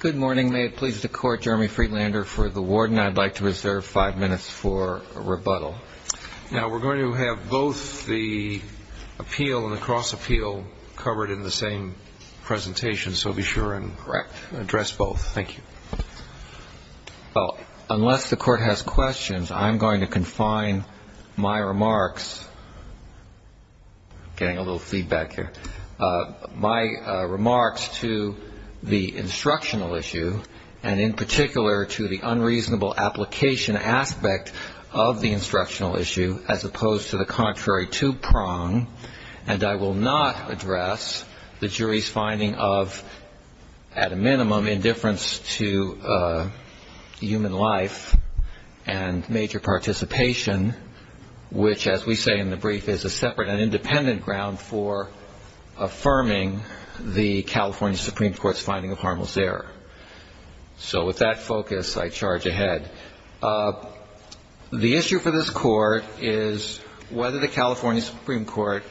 Good morning. May it please the Court, Jeremy Freelander for the warden. I'd like to reserve five minutes for a rebuttal. Now, we're going to have both the appeal and the cross-appeal covered in the same presentation, so be sure and address both. Thank you. Well, unless the Court has questions, I'm going to confine my remarks. Getting a little feedback here. My remarks to the instructional issue, and in particular to the unreasonable application aspect of the instructional issue, as opposed to the contrary two-prong, and I will not address the jury's finding of, at a minimum, indifference to human life and major participation, which, as we say in the brief, is a separate and independent ground for affirming the California Supreme Court's finding of harmless error. So with that focus, I charge ahead. The issue for this Court is whether the California Supreme Court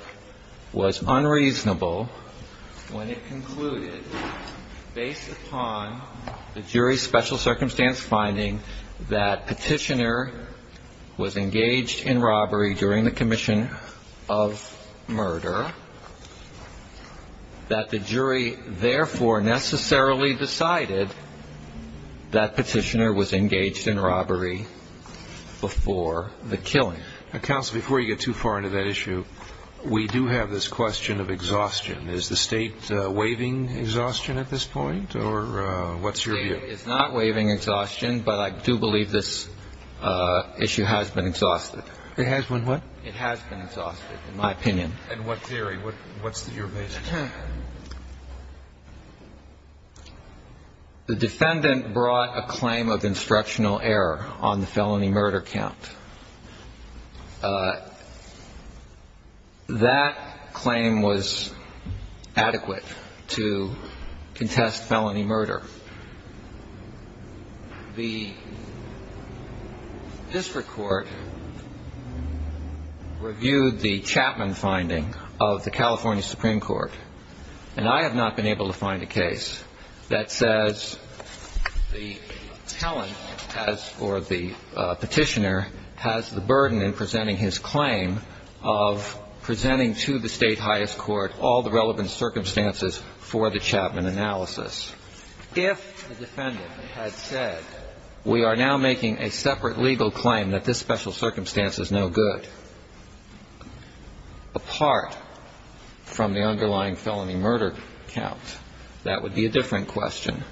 was unreasonable when it concluded, based upon the jury's special circumstance finding that Petitioner was engaged in robbery during the commission of murder, that the jury therefore necessarily decided that Petitioner was engaged in robbery before the killing. Counsel, before you get too far into that issue, we do have this question of exhaustion. Is the State waiving exhaustion at this point, or what's your view? The State is not waiving exhaustion, but I do believe this issue has been exhausted. It has been what? It has been exhausted, in my opinion. In what theory? What's your vision? The defendant brought a claim of instructional error on the felony murder count. That claim was adequate to contest felony murder. The district court reviewed the Chapman finding of the California Supreme Court, and I have not been able to find a case that says the talent, as for the Petitioner, has the burden in presenting his claim of presenting to the state highest court all the relevant circumstances for the Chapman analysis. If the defendant had said, we are now making a separate legal claim that this special circumstance is no good, apart from the underlying felony murder count, that would be a different question.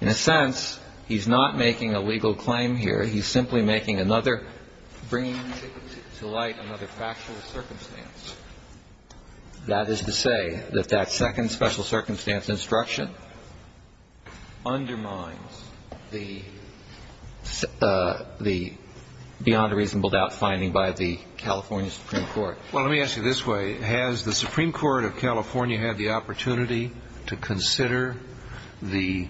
In a sense, he's not making a legal claim here. He's simply making another, bringing to light another factual circumstance. That is to say that that second special circumstance instruction undermines the beyond a reasonable doubt finding by the California Supreme Court. Well, let me ask you this way. Has the Supreme Court of California had the opportunity to consider the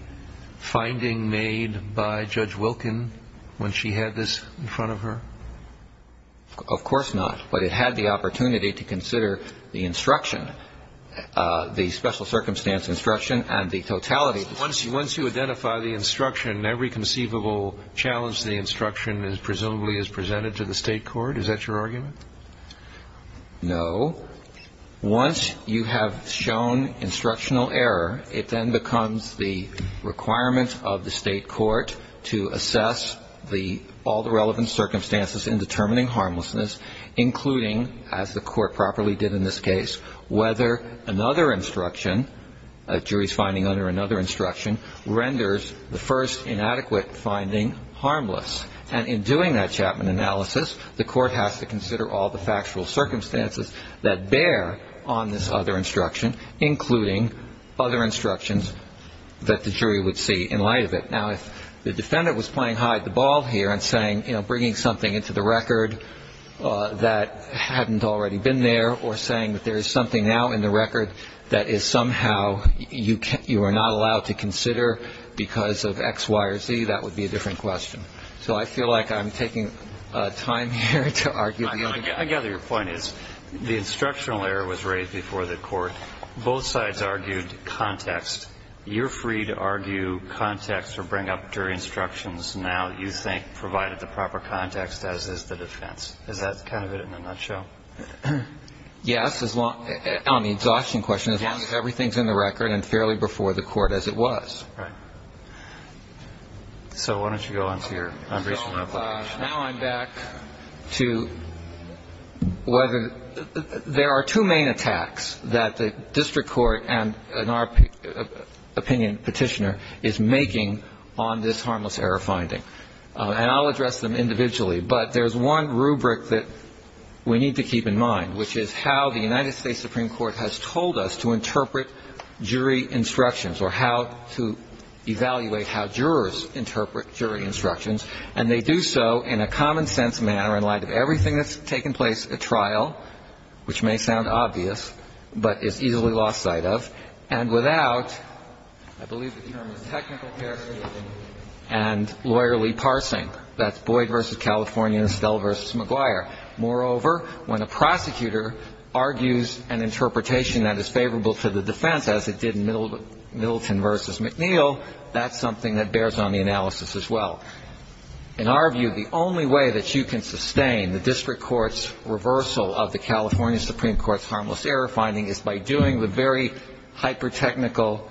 finding made by Judge Wilkin when she had this in front of her? Of course not. But it had the opportunity to consider the instruction, the special circumstance instruction and the totality. Once you identify the instruction, every conceivable challenge to the instruction presumably is presented to the state court. Is that your argument? No. Once you have shown instructional error, it then becomes the requirement of the state court to assess all the relevant circumstances in determining harmlessness, including, as the court properly did in this case, whether another instruction, a jury's finding under another instruction, renders the first inadequate finding harmless. And in doing that Chapman analysis, the court has to consider all the factual circumstances that bear on this other instruction, including other instructions that the jury would see in light of it. Now, if the defendant was playing hide-the-ball here and saying, you know, bringing something into the record that hadn't already been there or saying that there is something now in the record that is somehow, you are not allowed to consider because of X, Y, or Z, that would be a different question. So I feel like I'm taking time here to argue the other thing. I gather your point is the instructional error was raised before the court. Both sides argued context. You're free to argue context or bring up jury instructions now you think provided the proper context, as is the defense. Is that kind of it in a nutshell? Yes, on the exhaustion question, as long as everything is in the record and fairly before the court as it was. Right. So why don't you go on to your unreasonable question. Now I'm back to whether there are two main attacks that the district court and our opinion petitioner is making on this harmless error finding. And I'll address them individually. But there's one rubric that we need to keep in mind, which is how the United States Supreme Court has told us to interpret jury instructions or how to evaluate how jurors interpret jury instructions. And they do so in a common sense manner in light of everything that's taken place at trial, which may sound obvious but is easily lost sight of. And without, I believe the term is technical paraphernalia and lawyerly parsing. That's Boyd v. California and Estelle v. McGuire. Moreover, when a prosecutor argues an interpretation that is favorable to the defense, as it did in Middleton v. McNeil, that's something that bears on the analysis as well. In our view, the only way that you can sustain the district court's reversal of the California Supreme Court's harmless error finding is by doing the very hyper-technical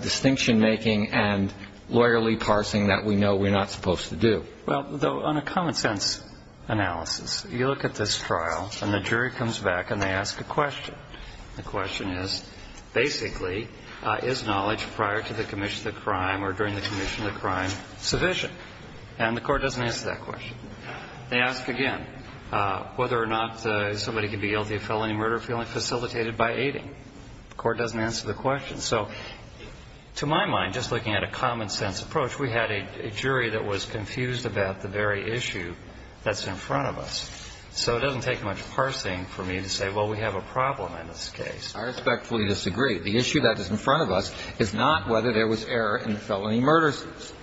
distinction making and lawyerly parsing that we know we're not supposed to do. Well, on a common sense analysis, you look at this trial and the jury comes back and they ask a question. The question is, basically, is knowledge prior to the commission of the crime or during the commission of the crime sufficient? And the court doesn't answer that question. They ask again whether or not somebody could be guilty of felony murder if he only facilitated by aiding. The court doesn't answer the question. So to my mind, just looking at a common sense approach, we had a jury that was confused about the very issue that's in front of us. So it doesn't take much parsing for me to say, well, we have a problem in this case. I respectfully disagree. The issue that is in front of us is not whether there was error in the felony murder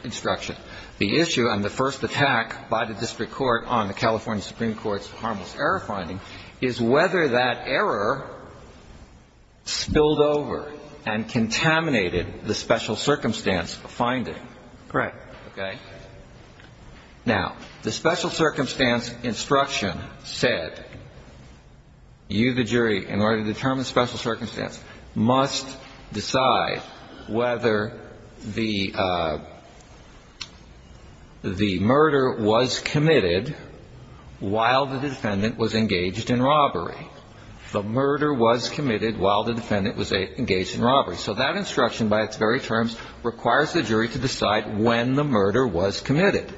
instruction. The issue on the first attack by the district court on the California Supreme Court's error finding is whether that error spilled over and contaminated the special circumstance finding. Correct. Okay? Now, the special circumstance instruction said you, the jury, in order to determine the special circumstance, must decide whether the murder was committed while the defense defendant was engaged in robbery. The murder was committed while the defendant was engaged in robbery. So that instruction by its very terms requires the jury to decide when the murder was committed.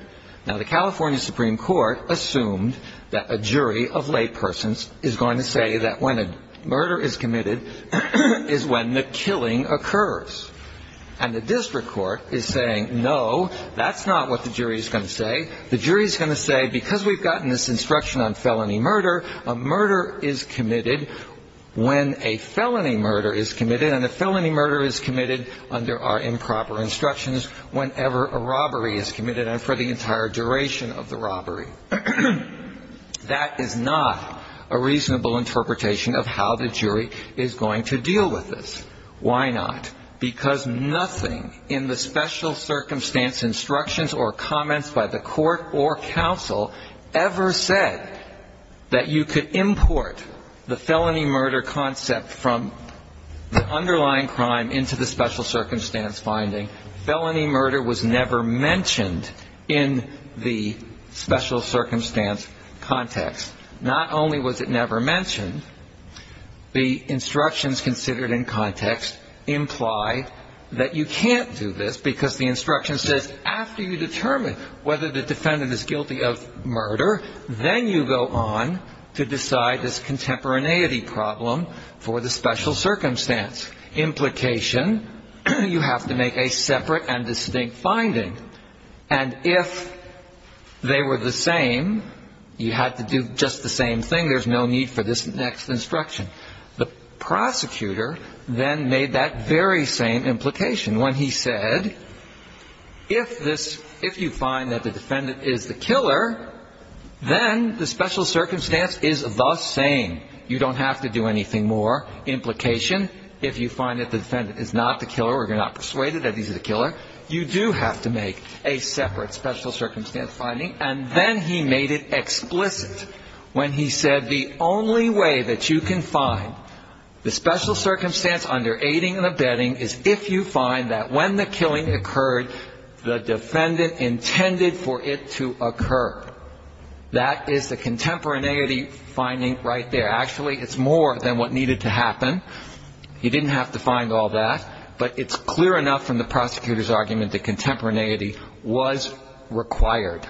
Now, the California Supreme Court assumed that a jury of laypersons is going to say that when a murder is committed is when the killing occurs. And the district court is saying, no, that's not what the jury is going to say. The jury is going to say, because we've gotten this instruction on felony murder, a murder is committed when a felony murder is committed, and a felony murder is committed under our improper instructions whenever a robbery is committed and for the entire duration of the robbery. That is not a reasonable interpretation of how the jury is going to deal with this. Why not? Because nothing in the special circumstance instructions or comments by the court or counsel ever said that you could import the felony murder concept from the underlying crime into the special circumstance finding. Felony murder was never mentioned in the special circumstance context. Not only was it never mentioned, the instructions considered in context imply that you can't do this because the instruction says after you determine whether the defendant is guilty of murder, then you go on to decide this contemporaneity problem for the special circumstance implication, you have to make a separate and distinct finding. And if they were the same, you had to do just the same thing. There's no need for this next instruction. The prosecutor then made that very same implication when he said, if this, if you find that the defendant is the killer, then the special circumstance is the same. You don't have to do anything more. Implication, if you find that the defendant is not the killer or you're not persuaded that he's the killer, you do have to make a separate special circumstance finding. And then he made it explicit when he said the only way that you can find the special circumstance under aiding and abetting is if you find that when the killing occurred, the defendant intended for it to occur. That is the contemporaneity finding right there. Actually, it's more than what needed to happen. You didn't have to find all that. But it's clear enough from the prosecutor's argument that contemporaneity was required.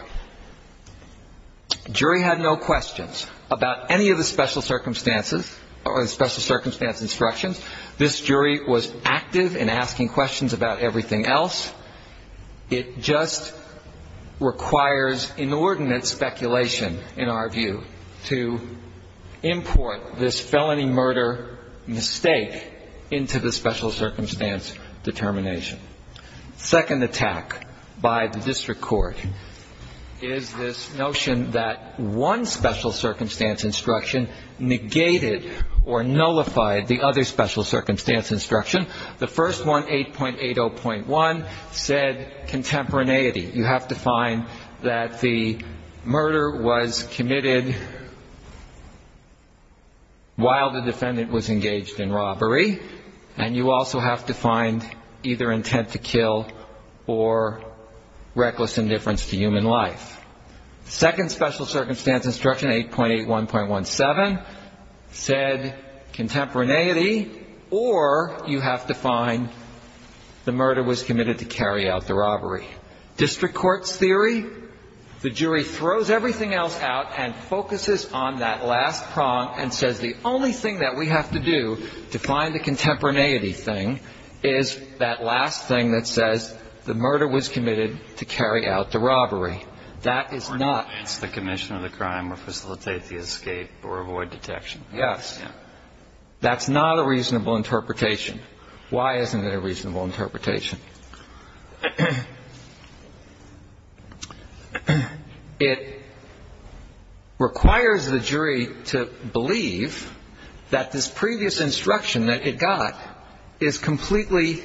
Jury had no questions about any of the special circumstances or the special circumstance instructions. This jury was active in asking questions about everything else. It just requires inordinate speculation, in our view, to import this felony murder mistake into the special circumstance determination. Second attack by the district court is this notion that one special circumstance instruction negated or nullified the other special circumstance instruction. The first one, 8.80.1, said contemporaneity. You have to find that the murder was committed while the defendant was engaged in robbery. And you also have to find either intent to kill or reckless indifference to human life. The second special circumstance instruction, 8.81.17, said contemporaneity, or you have to find the murder was committed to carry out the robbery. District court's theory, the jury throws everything else out and focuses on that last prong and says the only thing that we have to do to find the contemporaneity thing is that last thing that says the murder was committed to carry out the robbery. That is not the commission of the crime or facilitate the escape or avoid detection. Yes. That's not a reasonable interpretation. Why isn't it a reasonable interpretation? It requires the jury to believe that this previous instruction that it got is completely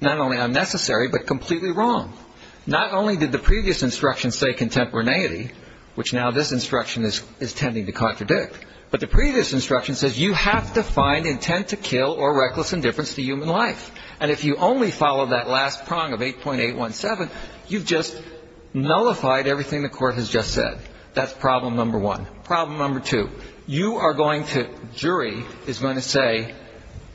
not only unnecessary but completely wrong. Not only did the previous instruction say contemporaneity, which now this instruction is tending to contradict, but the previous instruction says you have to find intent to kill or reckless indifference to human life. And if you only follow that last prong of 8.81.17, you've just nullified everything the court has just said. That's problem number one. Problem number two, you are going to, jury is going to say,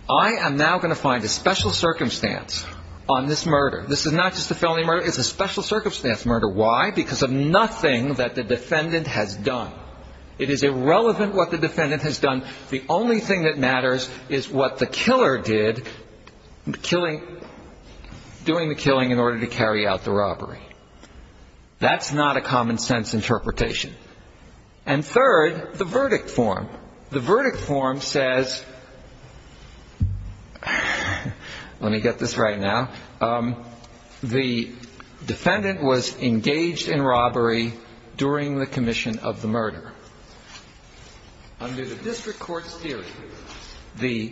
I am now going to find a special circumstance on this murder. This is not just a felony murder. It's a special circumstance murder. Why? Because of nothing that the defendant has done. It is irrelevant what the defendant has done. The only thing that matters is what the killer did, killing, doing the killing in order to carry out the robbery. That's not a common sense interpretation. And third, the verdict form. The verdict form says, let me get this right now, the defendant was engaged in robbery during the commission of the murder. Under the district court's theory, the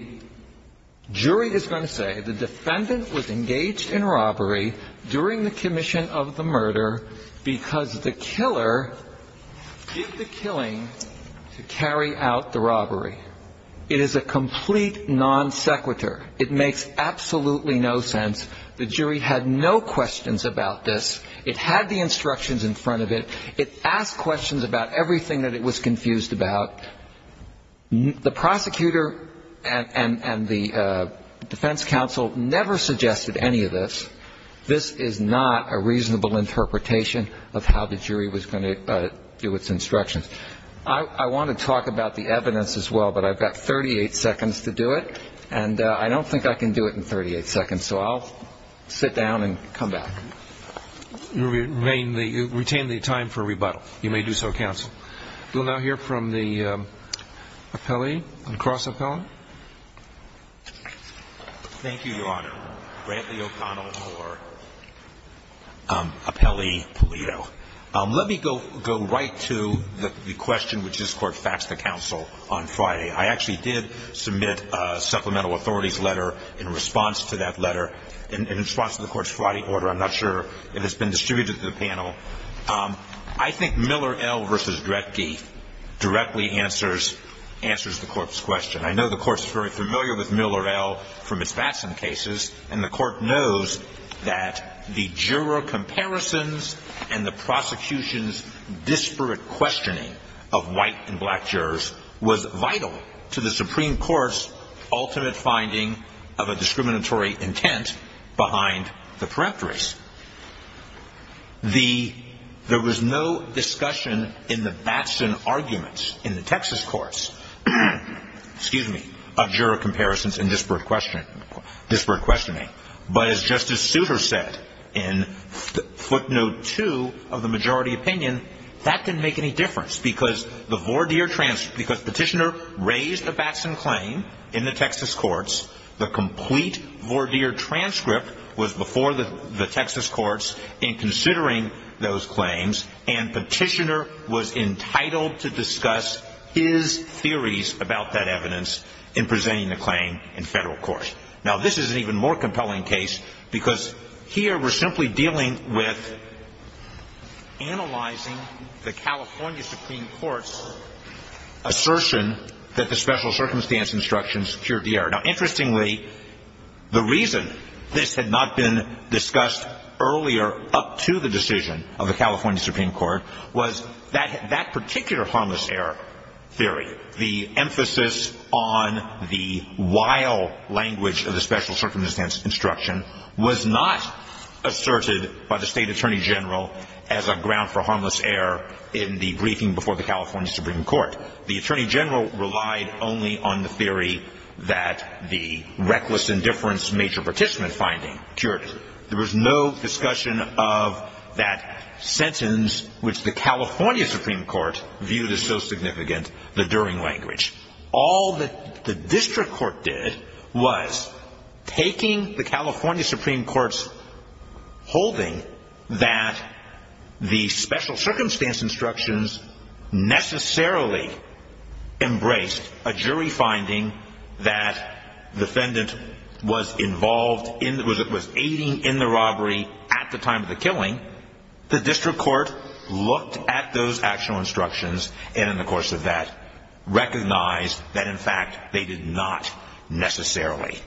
jury is going to say the defendant was engaged in robbery during the commission of the murder because the killer did the killing to carry out the robbery. It is a complete non sequitur. It makes absolutely no sense. The jury had no questions about this. It had the instructions in front of it. It asked questions about everything that it was confused about. The prosecutor and the defense counsel never suggested any of this. This is not a reasonable interpretation of how the jury was going to do its instructions. I want to talk about the evidence as well, but I've got 38 seconds to do it, and I don't think I can do it in 38 seconds. So I'll sit down and come back. You retain the time for rebuttal. You may do so, counsel. We'll now hear from the appellee and cross-appellant. Thank you, Your Honor. Brantley O'Connell for appellee Pulido. Let me go right to the question which this Court faxed the counsel on Friday. I actually did submit a supplemental authorities letter in response to that letter. In response to the Court's Friday order. I'm not sure if it's been distributed to the panel. I think Miller L. versus Dredge directly answers the Court's question. I know the Court's very familiar with Miller L. from its Batson cases, and the Court knows that the juror comparisons and the prosecution's disparate questioning of white and black jurors was vital to the Supreme Court's ultimate finding of a discriminatory intent behind the peripteries. There was no discussion in the Batson arguments in the Texas courts of juror comparisons and disparate questioning. But as Justice Souter said in footnote two of the majority opinion, that didn't make any difference because Petitioner raised a Batson claim in the Texas courts. The complete Vordeer transcript was before the Texas courts in considering those claims, and Petitioner was entitled to discuss his theories about that evidence in presenting the claim in federal court. Now, this is an even more compelling case because here we're simply dealing with analyzing the California Supreme Court's assertion that the special circumstance instructions cured the error. Now, interestingly, the reason this had not been discussed earlier up to the decision of the California Supreme Court was that that particular harmless error theory, the emphasis on the wild language of the special circumstance instruction, was not asserted by the State Attorney General as a ground for harmless error in the briefing before the California Supreme Court. The Attorney General relied only on the theory that the reckless indifference major participant finding cured it. There was no discussion of that sentence which the California Supreme Court viewed as so significant, the during language. All that the district court did was taking the California Supreme Court's holding that the special circumstance instructions necessarily embraced a jury finding that the defendant was involved in, was aiding in the robbery at the time of the killing. The district court looked at those actual instructions, and in the course of that, recognized that in fact they did not necessarily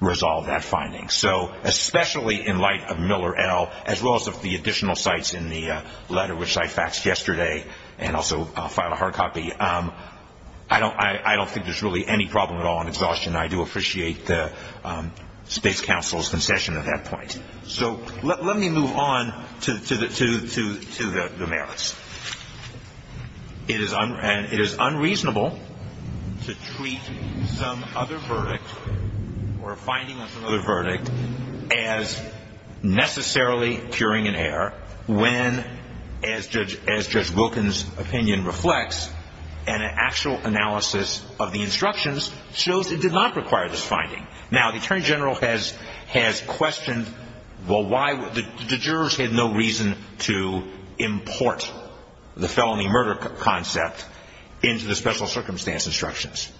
resolve that finding. So, especially in light of Miller L., as well as of the additional sites in the letter which I faxed yesterday, and also filed a hard copy, I don't think there's really any problem at all in exhaustion. I do appreciate the State's counsel's concession at that point. So, let me move on to the merits. It is unreasonable to treat some other verdict, or a finding of some other verdict, as necessarily curing an error when, as Judge Wilkins' opinion reflects, an actual analysis of the instructions shows it did not require this finding. Now, the Attorney General has questioned, well, why the jurors had no reason to import the felony murder concept into the special circumstance instructions.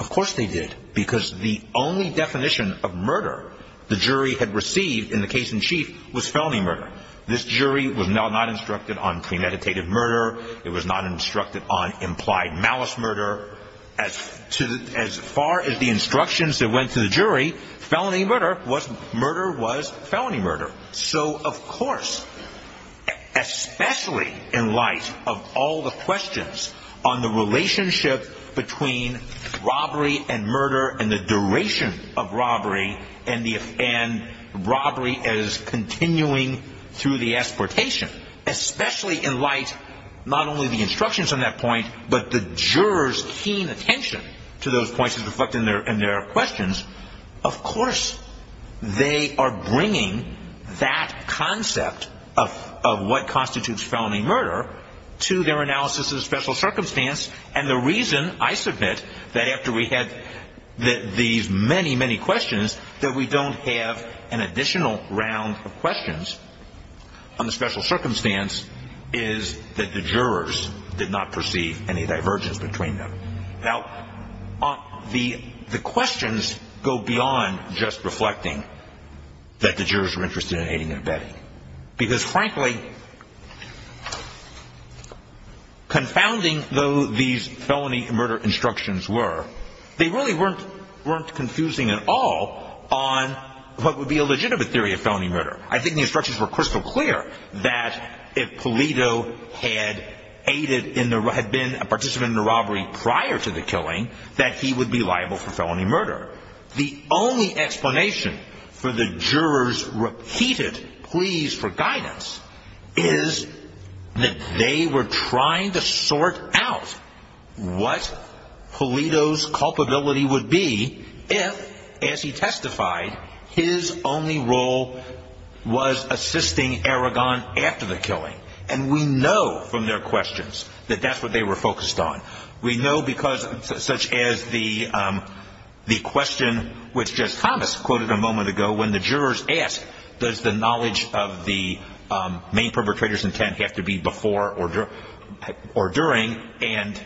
Of course they did, because the only definition of murder the jury had received in the case in chief was felony murder. This jury was not instructed on premeditated murder. It was not instructed on implied malice murder. As far as the instructions that went to the jury, felony murder was felony murder. So, of course, especially in light of all the questions on the relationship between robbery and murder and the duration of robbery and robbery as continuing through the exportation, especially in light, not only the instructions on that point, but the jurors' keen attention to those points is reflected in their questions, of course they are bringing that concept of what constitutes felony murder to their analysis of the special circumstance. And the reason, I submit, that after we had these many, many questions, that we don't have an additional round of questions on the special circumstance is that the jurors did not perceive any divergence between them. Now, the questions go beyond just reflecting that the jurors were interested in aiding and abetting. Because, frankly, confounding though these felony murder instructions were, they really weren't confusing at all on what would be a legitimate theory of felony murder. I think the instructions were crystal clear that if Polito had been a participant in the robbery prior to the killing, that he would be liable for felony murder. The only explanation for the jurors' repeated pleas for guidance is that they were trying to sort out what Polito's culpability would be if, as he testified, his only role was assisting Aragon after the killing. And we know from their questions that that's what they were focused on. We know because, such as the question which Jess Thomas quoted a moment ago, when the jurors asked, does the knowledge of the main perpetrator's intent have to be before or during, and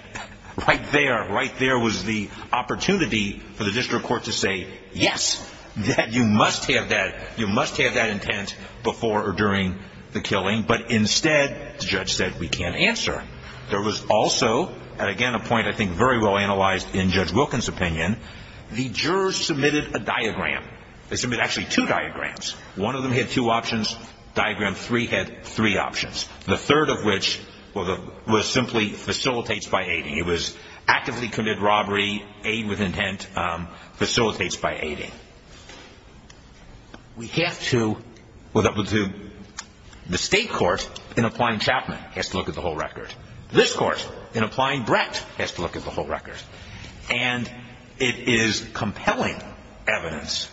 right there, right there was the opportunity for the district court to say, yes, you must have that intent before or during the killing. But instead, the judge said, we can't answer. There was also, and again a point I think very well analyzed in Judge Wilkins' opinion, the jurors submitted a diagram. They submitted actually two diagrams. One of them had two options. Diagram three had three options. The third of which was simply facilitates by aiding. It was actively commit robbery, aid with intent, facilitates by aiding. We have to, well, the state court, in applying Chapman, has to look at the whole record. This court, in applying Brett, has to look at the whole record. And it is compelling evidence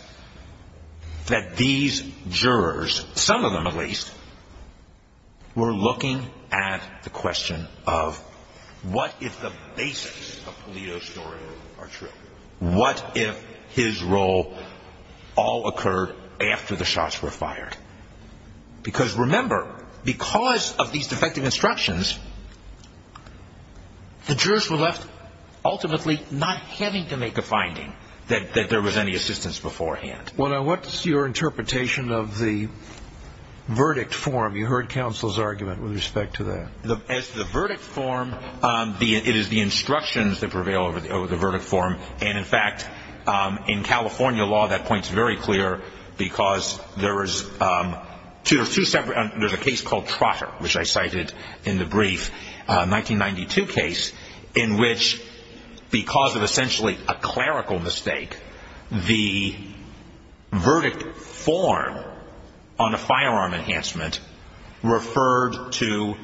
that these jurors, some of them at least, were looking at the question of what if the basics of Polito's story are true? What if his role all occurred after the shots were fired? Because remember, because of these defective instructions, the jurors were left ultimately not having to make a finding that there was any assistance beforehand. What's your interpretation of the verdict form? You heard counsel's argument with respect to that. As the verdict form, it is the instructions that prevail over the verdict form. And, in fact, in California law, that point is very clear because there is two separate, there's a case called Trotter, which I cited in the brief, 1992 case, in which because of essentially a clerical mistake, the verdict form on a firearm enhancement referred to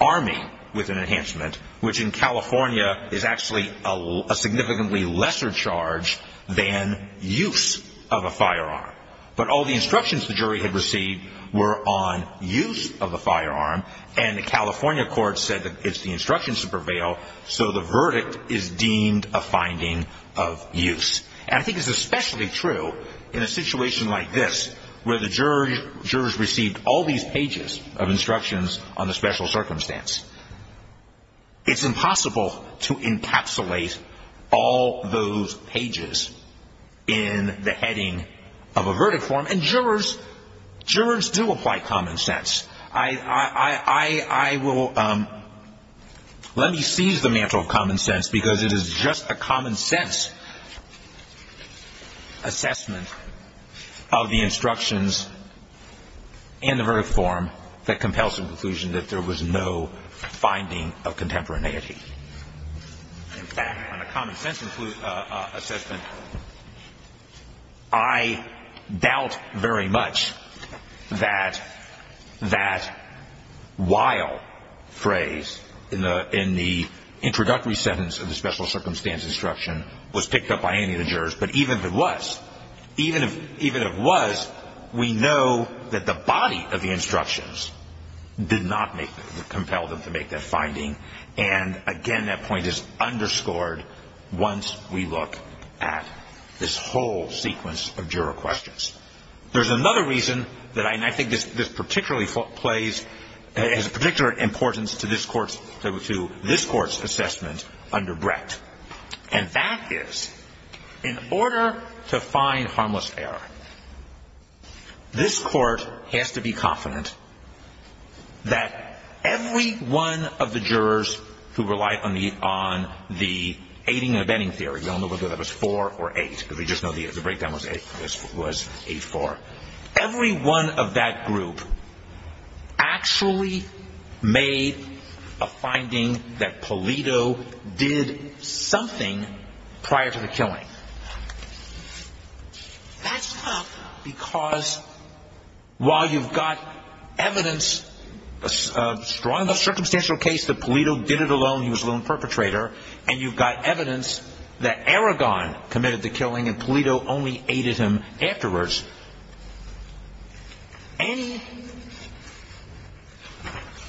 arming with an enhancement, which in California is actually a significantly lesser charge than use of a firearm. But all the instructions the jury had received were on use of a firearm, and the California court said that it's the instructions that prevail, so the verdict is deemed a finding of use. And I think it's especially true in a situation like this, where the jurors received all these pages of instructions on a special circumstance. It's impossible to encapsulate all those pages in the heading of a verdict form. And jurors, jurors do apply common sense. I will, let me seize the mantle of common sense because it is just a common sense assessment of the instructions and the verdict form that compels the conclusion that there was no finding of contemporaneity. In fact, on a common sense assessment, I doubt very much that that while phrase in the introductory sentence of the special circumstance instruction was picked up by any of the jurors, but even if it was, even if it was, we know that the body of the instructions did not compel them to make that finding. And again, that point is underscored once we look at this whole sequence of juror questions. There's another reason that I think this particularly plays, has a particular importance to this court's assessment under Brett, and that is in order to find harmless error, this court has to be confident that every one of the jurors who relied on the aiding and abetting theory, I don't know whether that was 4 or 8, because we just know the breakdown was 8-4, every one of that group actually made a finding that Polito did something prior to the killing. That's not because while you've got evidence, a strong circumstantial case that Polito did it alone, he was a lone perpetrator, and you've got evidence that Aragon committed the killing and Polito only aided him afterwards, any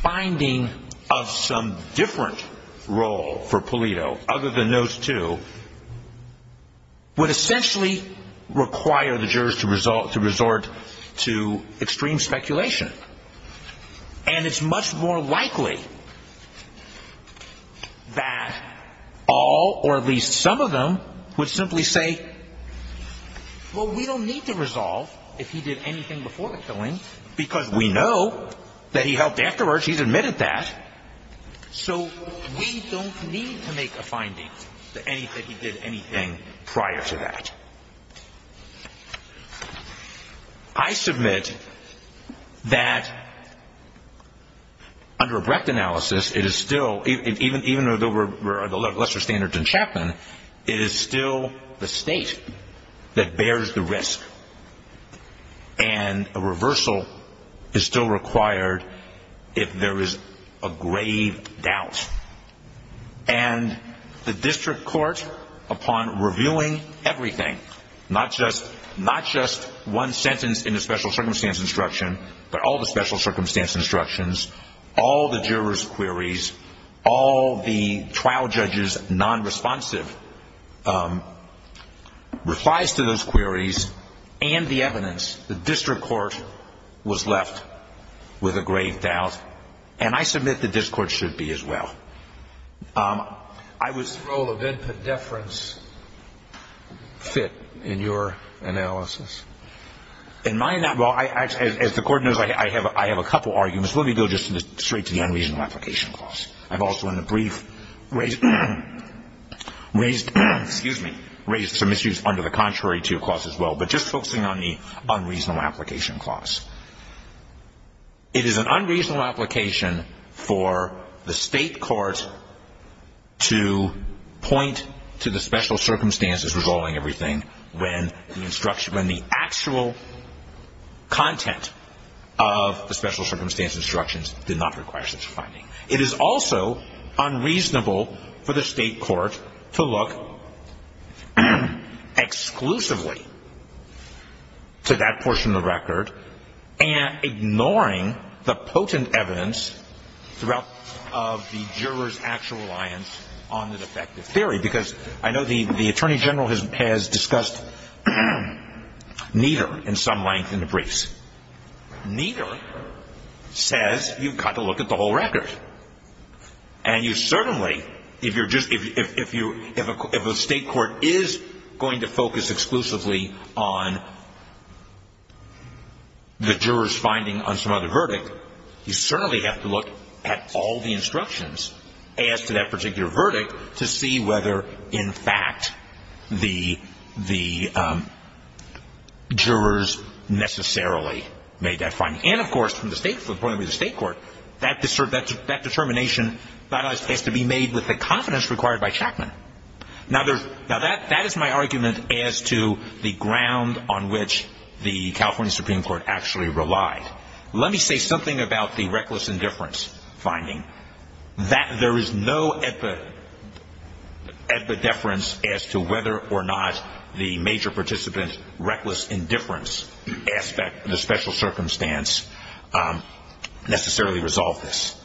finding of some different role for Polito, other than those two, would essentially require the jurors to resort to extreme speculation. And it's much more likely that all or at least some of them would simply say, well, we don't need to resolve if he did anything before the killing, because we know that he helped afterwards, he's admitted that, so we don't need to make a finding that he did anything prior to that. I submit that under a Brecht analysis, it is still, even though there were lesser standards in Chapman, it is still the State that bears the risk, and a reversal is still required if there is a grave doubt. And the district court, upon reviewing everything, not just one sentence in the special circumstance instruction, but all the special circumstance instructions, all the jurors' queries, all the trial judges' non-responsive replies to those queries, and the evidence, the district court was left with a grave doubt, and I submit that this court should be as well. Is the role of input deference fit in your analysis? In my analysis, as the court knows, I have a couple of arguments. First, let me go just straight to the unreasonable application clause. I've also in the brief raised some issues under the contrary to clause as well, but just focusing on the unreasonable application clause. It is an unreasonable application for the State court to point to the special circumstances resolving everything when the actual content of the special circumstance instructions did not require such a finding. It is also unreasonable for the State court to look exclusively to that portion of the record and ignoring the potent evidence throughout the juror's actual reliance on an effective theory, because I know the Attorney General has discussed neither in some length in the briefs. Neither says you've got to look at the whole record, and you certainly, if you're just, if the State court is going to focus exclusively on the juror's finding on some other verdict, you certainly have to look at all the instructions as to that particular verdict to see whether in fact the jurors necessarily made that finding. And, of course, from the point of view of the State court, that determination has to be made with the confidence required by Chapman. Now, that is my argument as to the ground on which the California Supreme Court actually relied. Let me say something about the reckless indifference finding, that there is no epideference as to whether or not the major participant's reckless indifference aspect, the special circumstance, necessarily resolved this.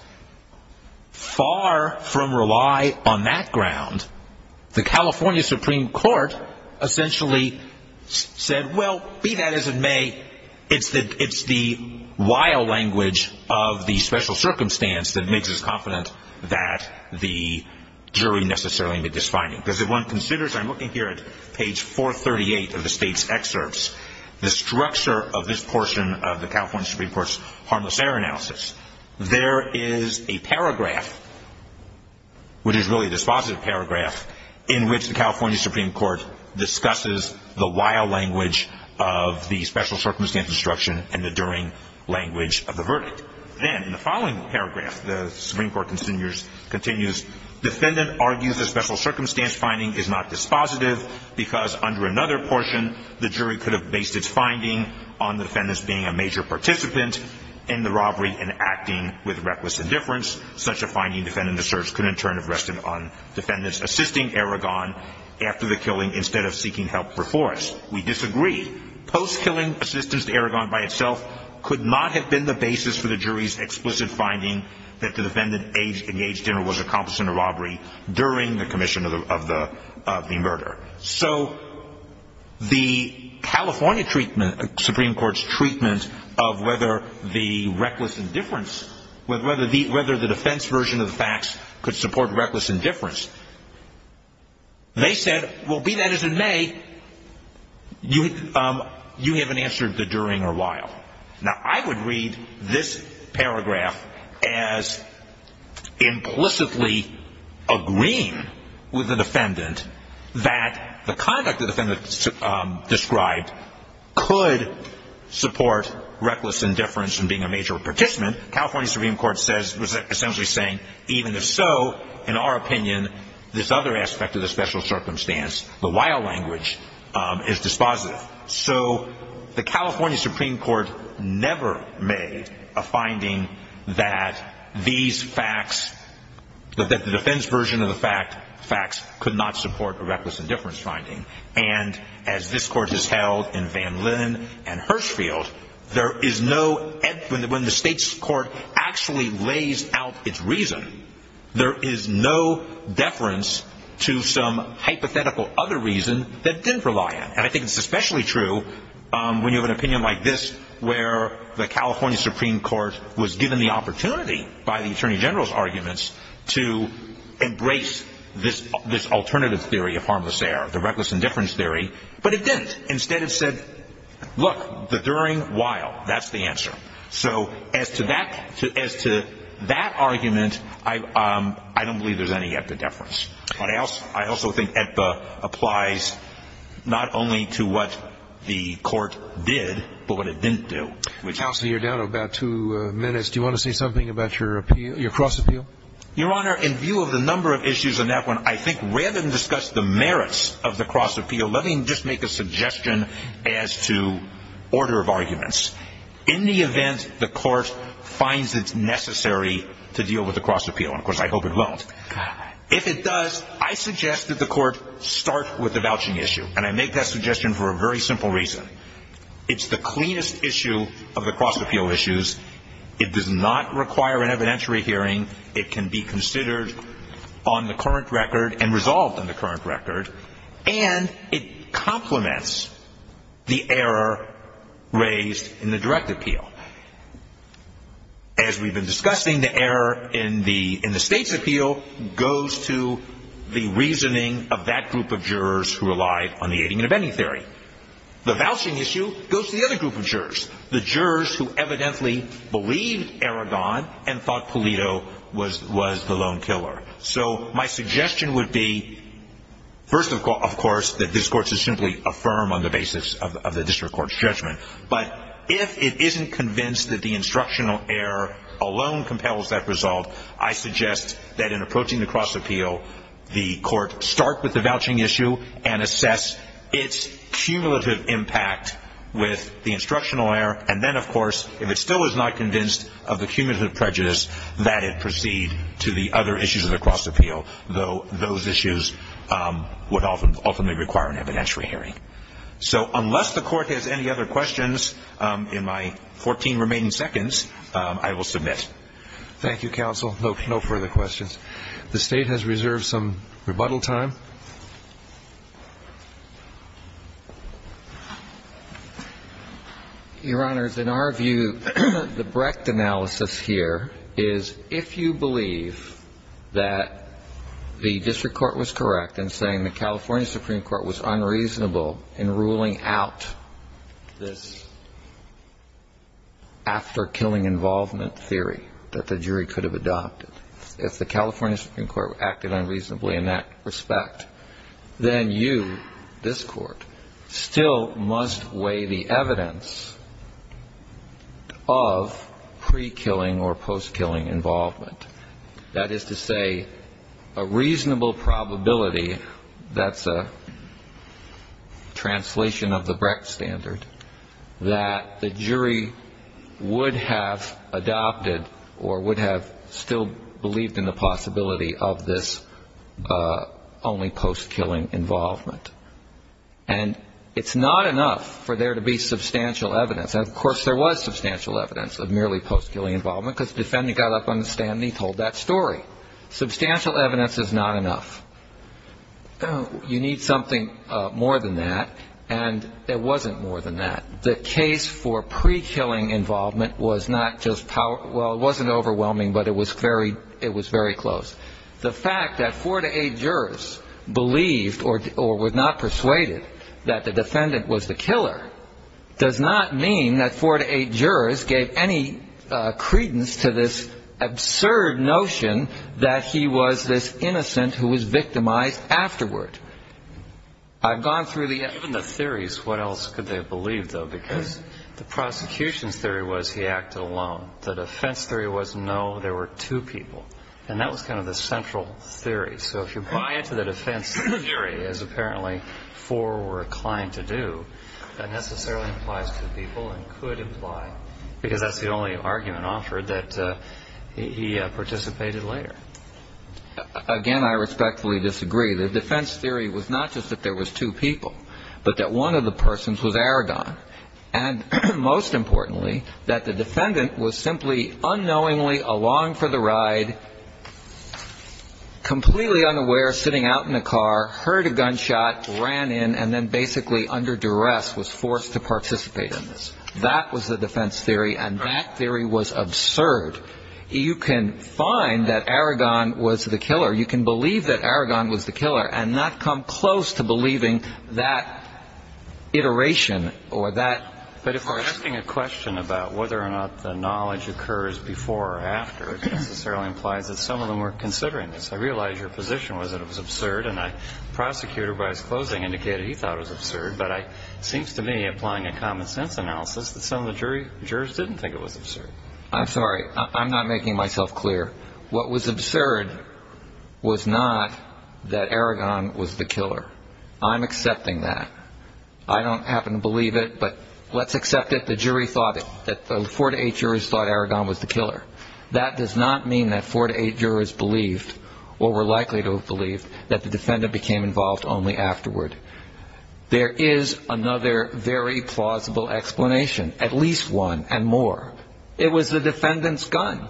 Far from rely on that ground, the California Supreme Court essentially said, well, be that as it may, it's the wild language of the special circumstance that makes us confident that the jury necessarily made this finding. Because if one considers, I'm looking here at page 438 of the State's excerpts, the structure of this portion of the California Supreme Court's harmless error analysis, there is a paragraph, which is really a dispositive paragraph, in which the California Supreme Court discusses the wild language of the special circumstance instruction and the derring language of the verdict. Then, in the following paragraph, the Supreme Court continues, defendant argues the special circumstance finding is not dispositive because under another portion, the jury could have based its finding on the defendants being a major participant in the robbery and acting with reckless indifference. Such a finding defendant asserts could in turn have rested on defendants assisting Aragon after the killing instead of seeking help for force. We disagree. Post-killing assistance to Aragon by itself could not have been the basis for the jury's explicit finding that the defendant engaged in or was accomplice in a robbery during the commission of the murder. So the California treatment, Supreme Court's treatment of whether the reckless indifference, whether the defense version of the facts could support reckless indifference, they said, well, be that as it may, you haven't answered the during or while. Now, I would read this paragraph as implicitly agreeing with the defendant that the conduct the defendant described could support reckless indifference from being a major participant. California Supreme Court says, was essentially saying, even if so, in our opinion, this other aspect of the special circumstance, the while language, is dispositive. So the California Supreme Court never made a finding that these facts, that the defense version of the facts could not support a reckless indifference finding. And as this court has held in Van Linn and Hirshfield, there is no, when the state's court actually lays out its reason, there is no deference to some hypothetical other reason that it didn't rely on. And I think it's especially true when you have an opinion like this, where the California Supreme Court was given the opportunity by the attorney general's arguments to embrace this alternative theory of harmless error, the reckless indifference theory. But it didn't. Instead, it said, look, the during, while, that's the answer. So as to that argument, I don't believe there's any yet to deference. But I also think it applies not only to what the court did, but what it didn't do. Counsel, you're down to about two minutes. Do you want to say something about your cross-appeal? Your Honor, in view of the number of issues in that one, I think rather than discuss the merits of the cross-appeal, let me just make a suggestion as to order of arguments. In the event the court finds it necessary to deal with the cross-appeal, and of course I hope it won't, if it does, I suggest that the court start with the vouching issue. And I make that suggestion for a very simple reason. It's the cleanest issue of the cross-appeal issues. It does not require an evidentiary hearing. It can be considered on the current record and resolved on the current record. And it complements the error raised in the direct appeal. As we've been discussing, the error in the state's appeal goes to the reasoning of that group of jurors who relied on the aiding and abetting theory. The vouching issue goes to the other group of jurors, the jurors who evidently believed Aragon and thought Pulido was the lone killer. So my suggestion would be, first of course, that this court should simply affirm on the basis of the district court's judgment. But if it isn't convinced that the instructional error alone compels that result, I suggest that in approaching the cross-appeal, the court start with the vouching issue and assess its cumulative impact with the instructional error. And then, of course, if it still is not convinced of the cumulative prejudice, that it proceed to the other issues of the cross-appeal, though those issues would ultimately require an evidentiary hearing. So unless the court has any other questions in my 14 remaining seconds, I will submit. Thank you, counsel. No further questions. The State has reserved some rebuttal time. Your Honors, in our view, the Brecht analysis here is, if you believe that the district court was correct in saying the California Supreme Court was unreasonable in ruling out this after-killing involvement theory that the jury could have adopted, if the California Supreme Court acted unreasonably in that respect, then you, this court, still must weigh the evidence of pre-killing or post-killing involvement. That is to say, a reasonable probability, that's a translation of the Brecht standard, that the jury would have adopted or would have still believed in the possibility of this only post-killing involvement. And it's not enough for there to be substantial evidence. And, of course, there was substantial evidence of merely post-killing involvement because the defendant got up on the stand and he told that story. Substantial evidence is not enough. You need something more than that, and there wasn't more than that. The case for pre-killing involvement was not just, well, it wasn't overwhelming, but it was very close. The fact that four to eight jurors believed or were not persuaded that the defendant was the killer does not mean that four to eight jurors gave any credence to this absurd notion that he was this innocent who was victimized afterward. I've gone through the evidence. Even the theories, what else could they have believed, though? Because the prosecution's theory was he acted alone. The defense theory was, no, there were two people. And that was kind of the central theory. So if you buy into the defense theory as apparently four were inclined to do, that necessarily implies two people and could imply, because that's the only argument offered, that he participated later. Again, I respectfully disagree. The defense theory was not just that there was two people, but that one of the persons was Aragon. And most importantly, that the defendant was simply unknowingly along for the ride, completely unaware, sitting out in the car, heard a gunshot, ran in, and then basically under duress was forced to participate in this. That was the defense theory, and that theory was absurd. You can believe that Aragon was the killer and not come close to believing that iteration or that part. But if we're asking a question about whether or not the knowledge occurs before or after, it necessarily implies that some of them were considering this. I realize your position was that it was absurd, and the prosecutor, by his closing, indicated he thought it was absurd. But it seems to me, applying a common-sense analysis, that some of the jurors didn't think it was absurd. I'm sorry. I'm not making myself clear. What was absurd was not that Aragon was the killer. I'm accepting that. I don't happen to believe it, but let's accept it. The jury thought it. The four to eight jurors thought Aragon was the killer. That does not mean that four to eight jurors believed or were likely to have believed that the defendant became involved only afterward. There is another very plausible explanation, at least one and more. It was the defendant's gun.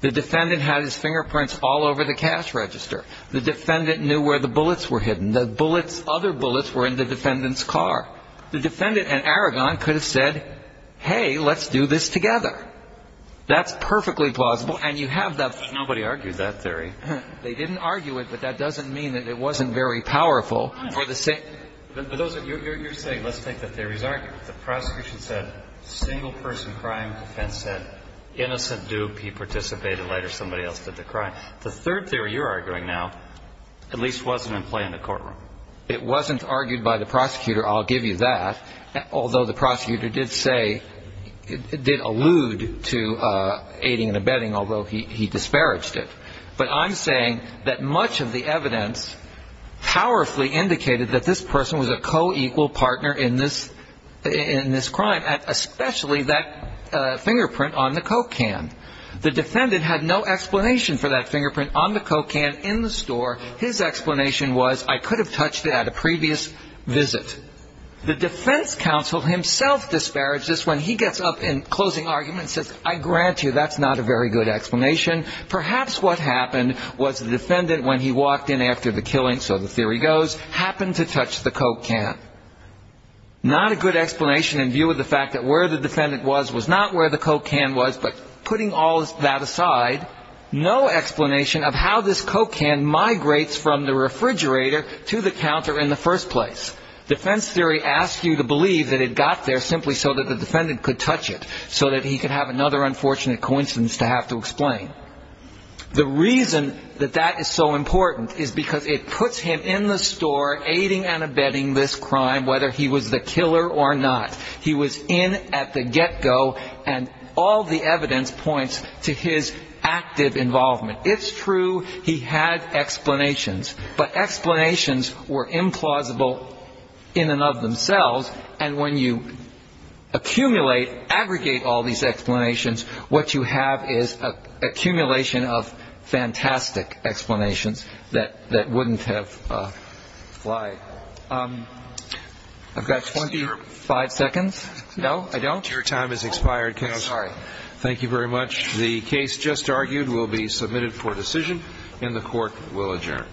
The defendant had his fingerprints all over the cash register. The defendant knew where the bullets were hidden. The bullets, other bullets, were in the defendant's car. The defendant and Aragon could have said, hey, let's do this together. That's perfectly plausible. And you have that. Nobody argued that theory. They didn't argue it, but that doesn't mean that it wasn't very powerful. But you're saying let's take the theories argued. The prosecution said single-person crime defense said innocent dupe. He participated later. Somebody else did the crime. The third theory you're arguing now at least wasn't in play in the courtroom. It wasn't argued by the prosecutor, I'll give you that, although the prosecutor did say, did allude to aiding and abetting, although he disparaged it. But I'm saying that much of the evidence powerfully indicated that this person was a co-equal partner in this crime, especially that fingerprint on the Coke can. The defendant had no explanation for that fingerprint on the Coke can in the store. His explanation was, I could have touched it at a previous visit. The defense counsel himself disparaged this when he gets up in closing argument and says, I grant you, that's not a very good explanation. Perhaps what happened was the defendant, when he walked in after the killing, so the theory goes, happened to touch the Coke can. Not a good explanation in view of the fact that where the defendant was was not where the Coke can was, but putting all that aside, no explanation of how this Coke can migrates from the refrigerator to the counter in the first place. Defense theory asks you to believe that it got there simply so that the defendant could touch it, so that he could have another unfortunate coincidence to have to explain. The reason that that is so important is because it puts him in the store, aiding and abetting this crime, whether he was the killer or not. He was in at the get-go, and all the evidence points to his active involvement. It's true he had explanations, but explanations were implausible in and of themselves, and when you accumulate, aggregate all these explanations, what you have is an accumulation of fantastic explanations that wouldn't have applied. I've got 25 seconds. No, I don't? Your time has expired, counsel. I'm sorry. Thank you very much. The case just argued will be submitted for decision, and the Court will adjourn.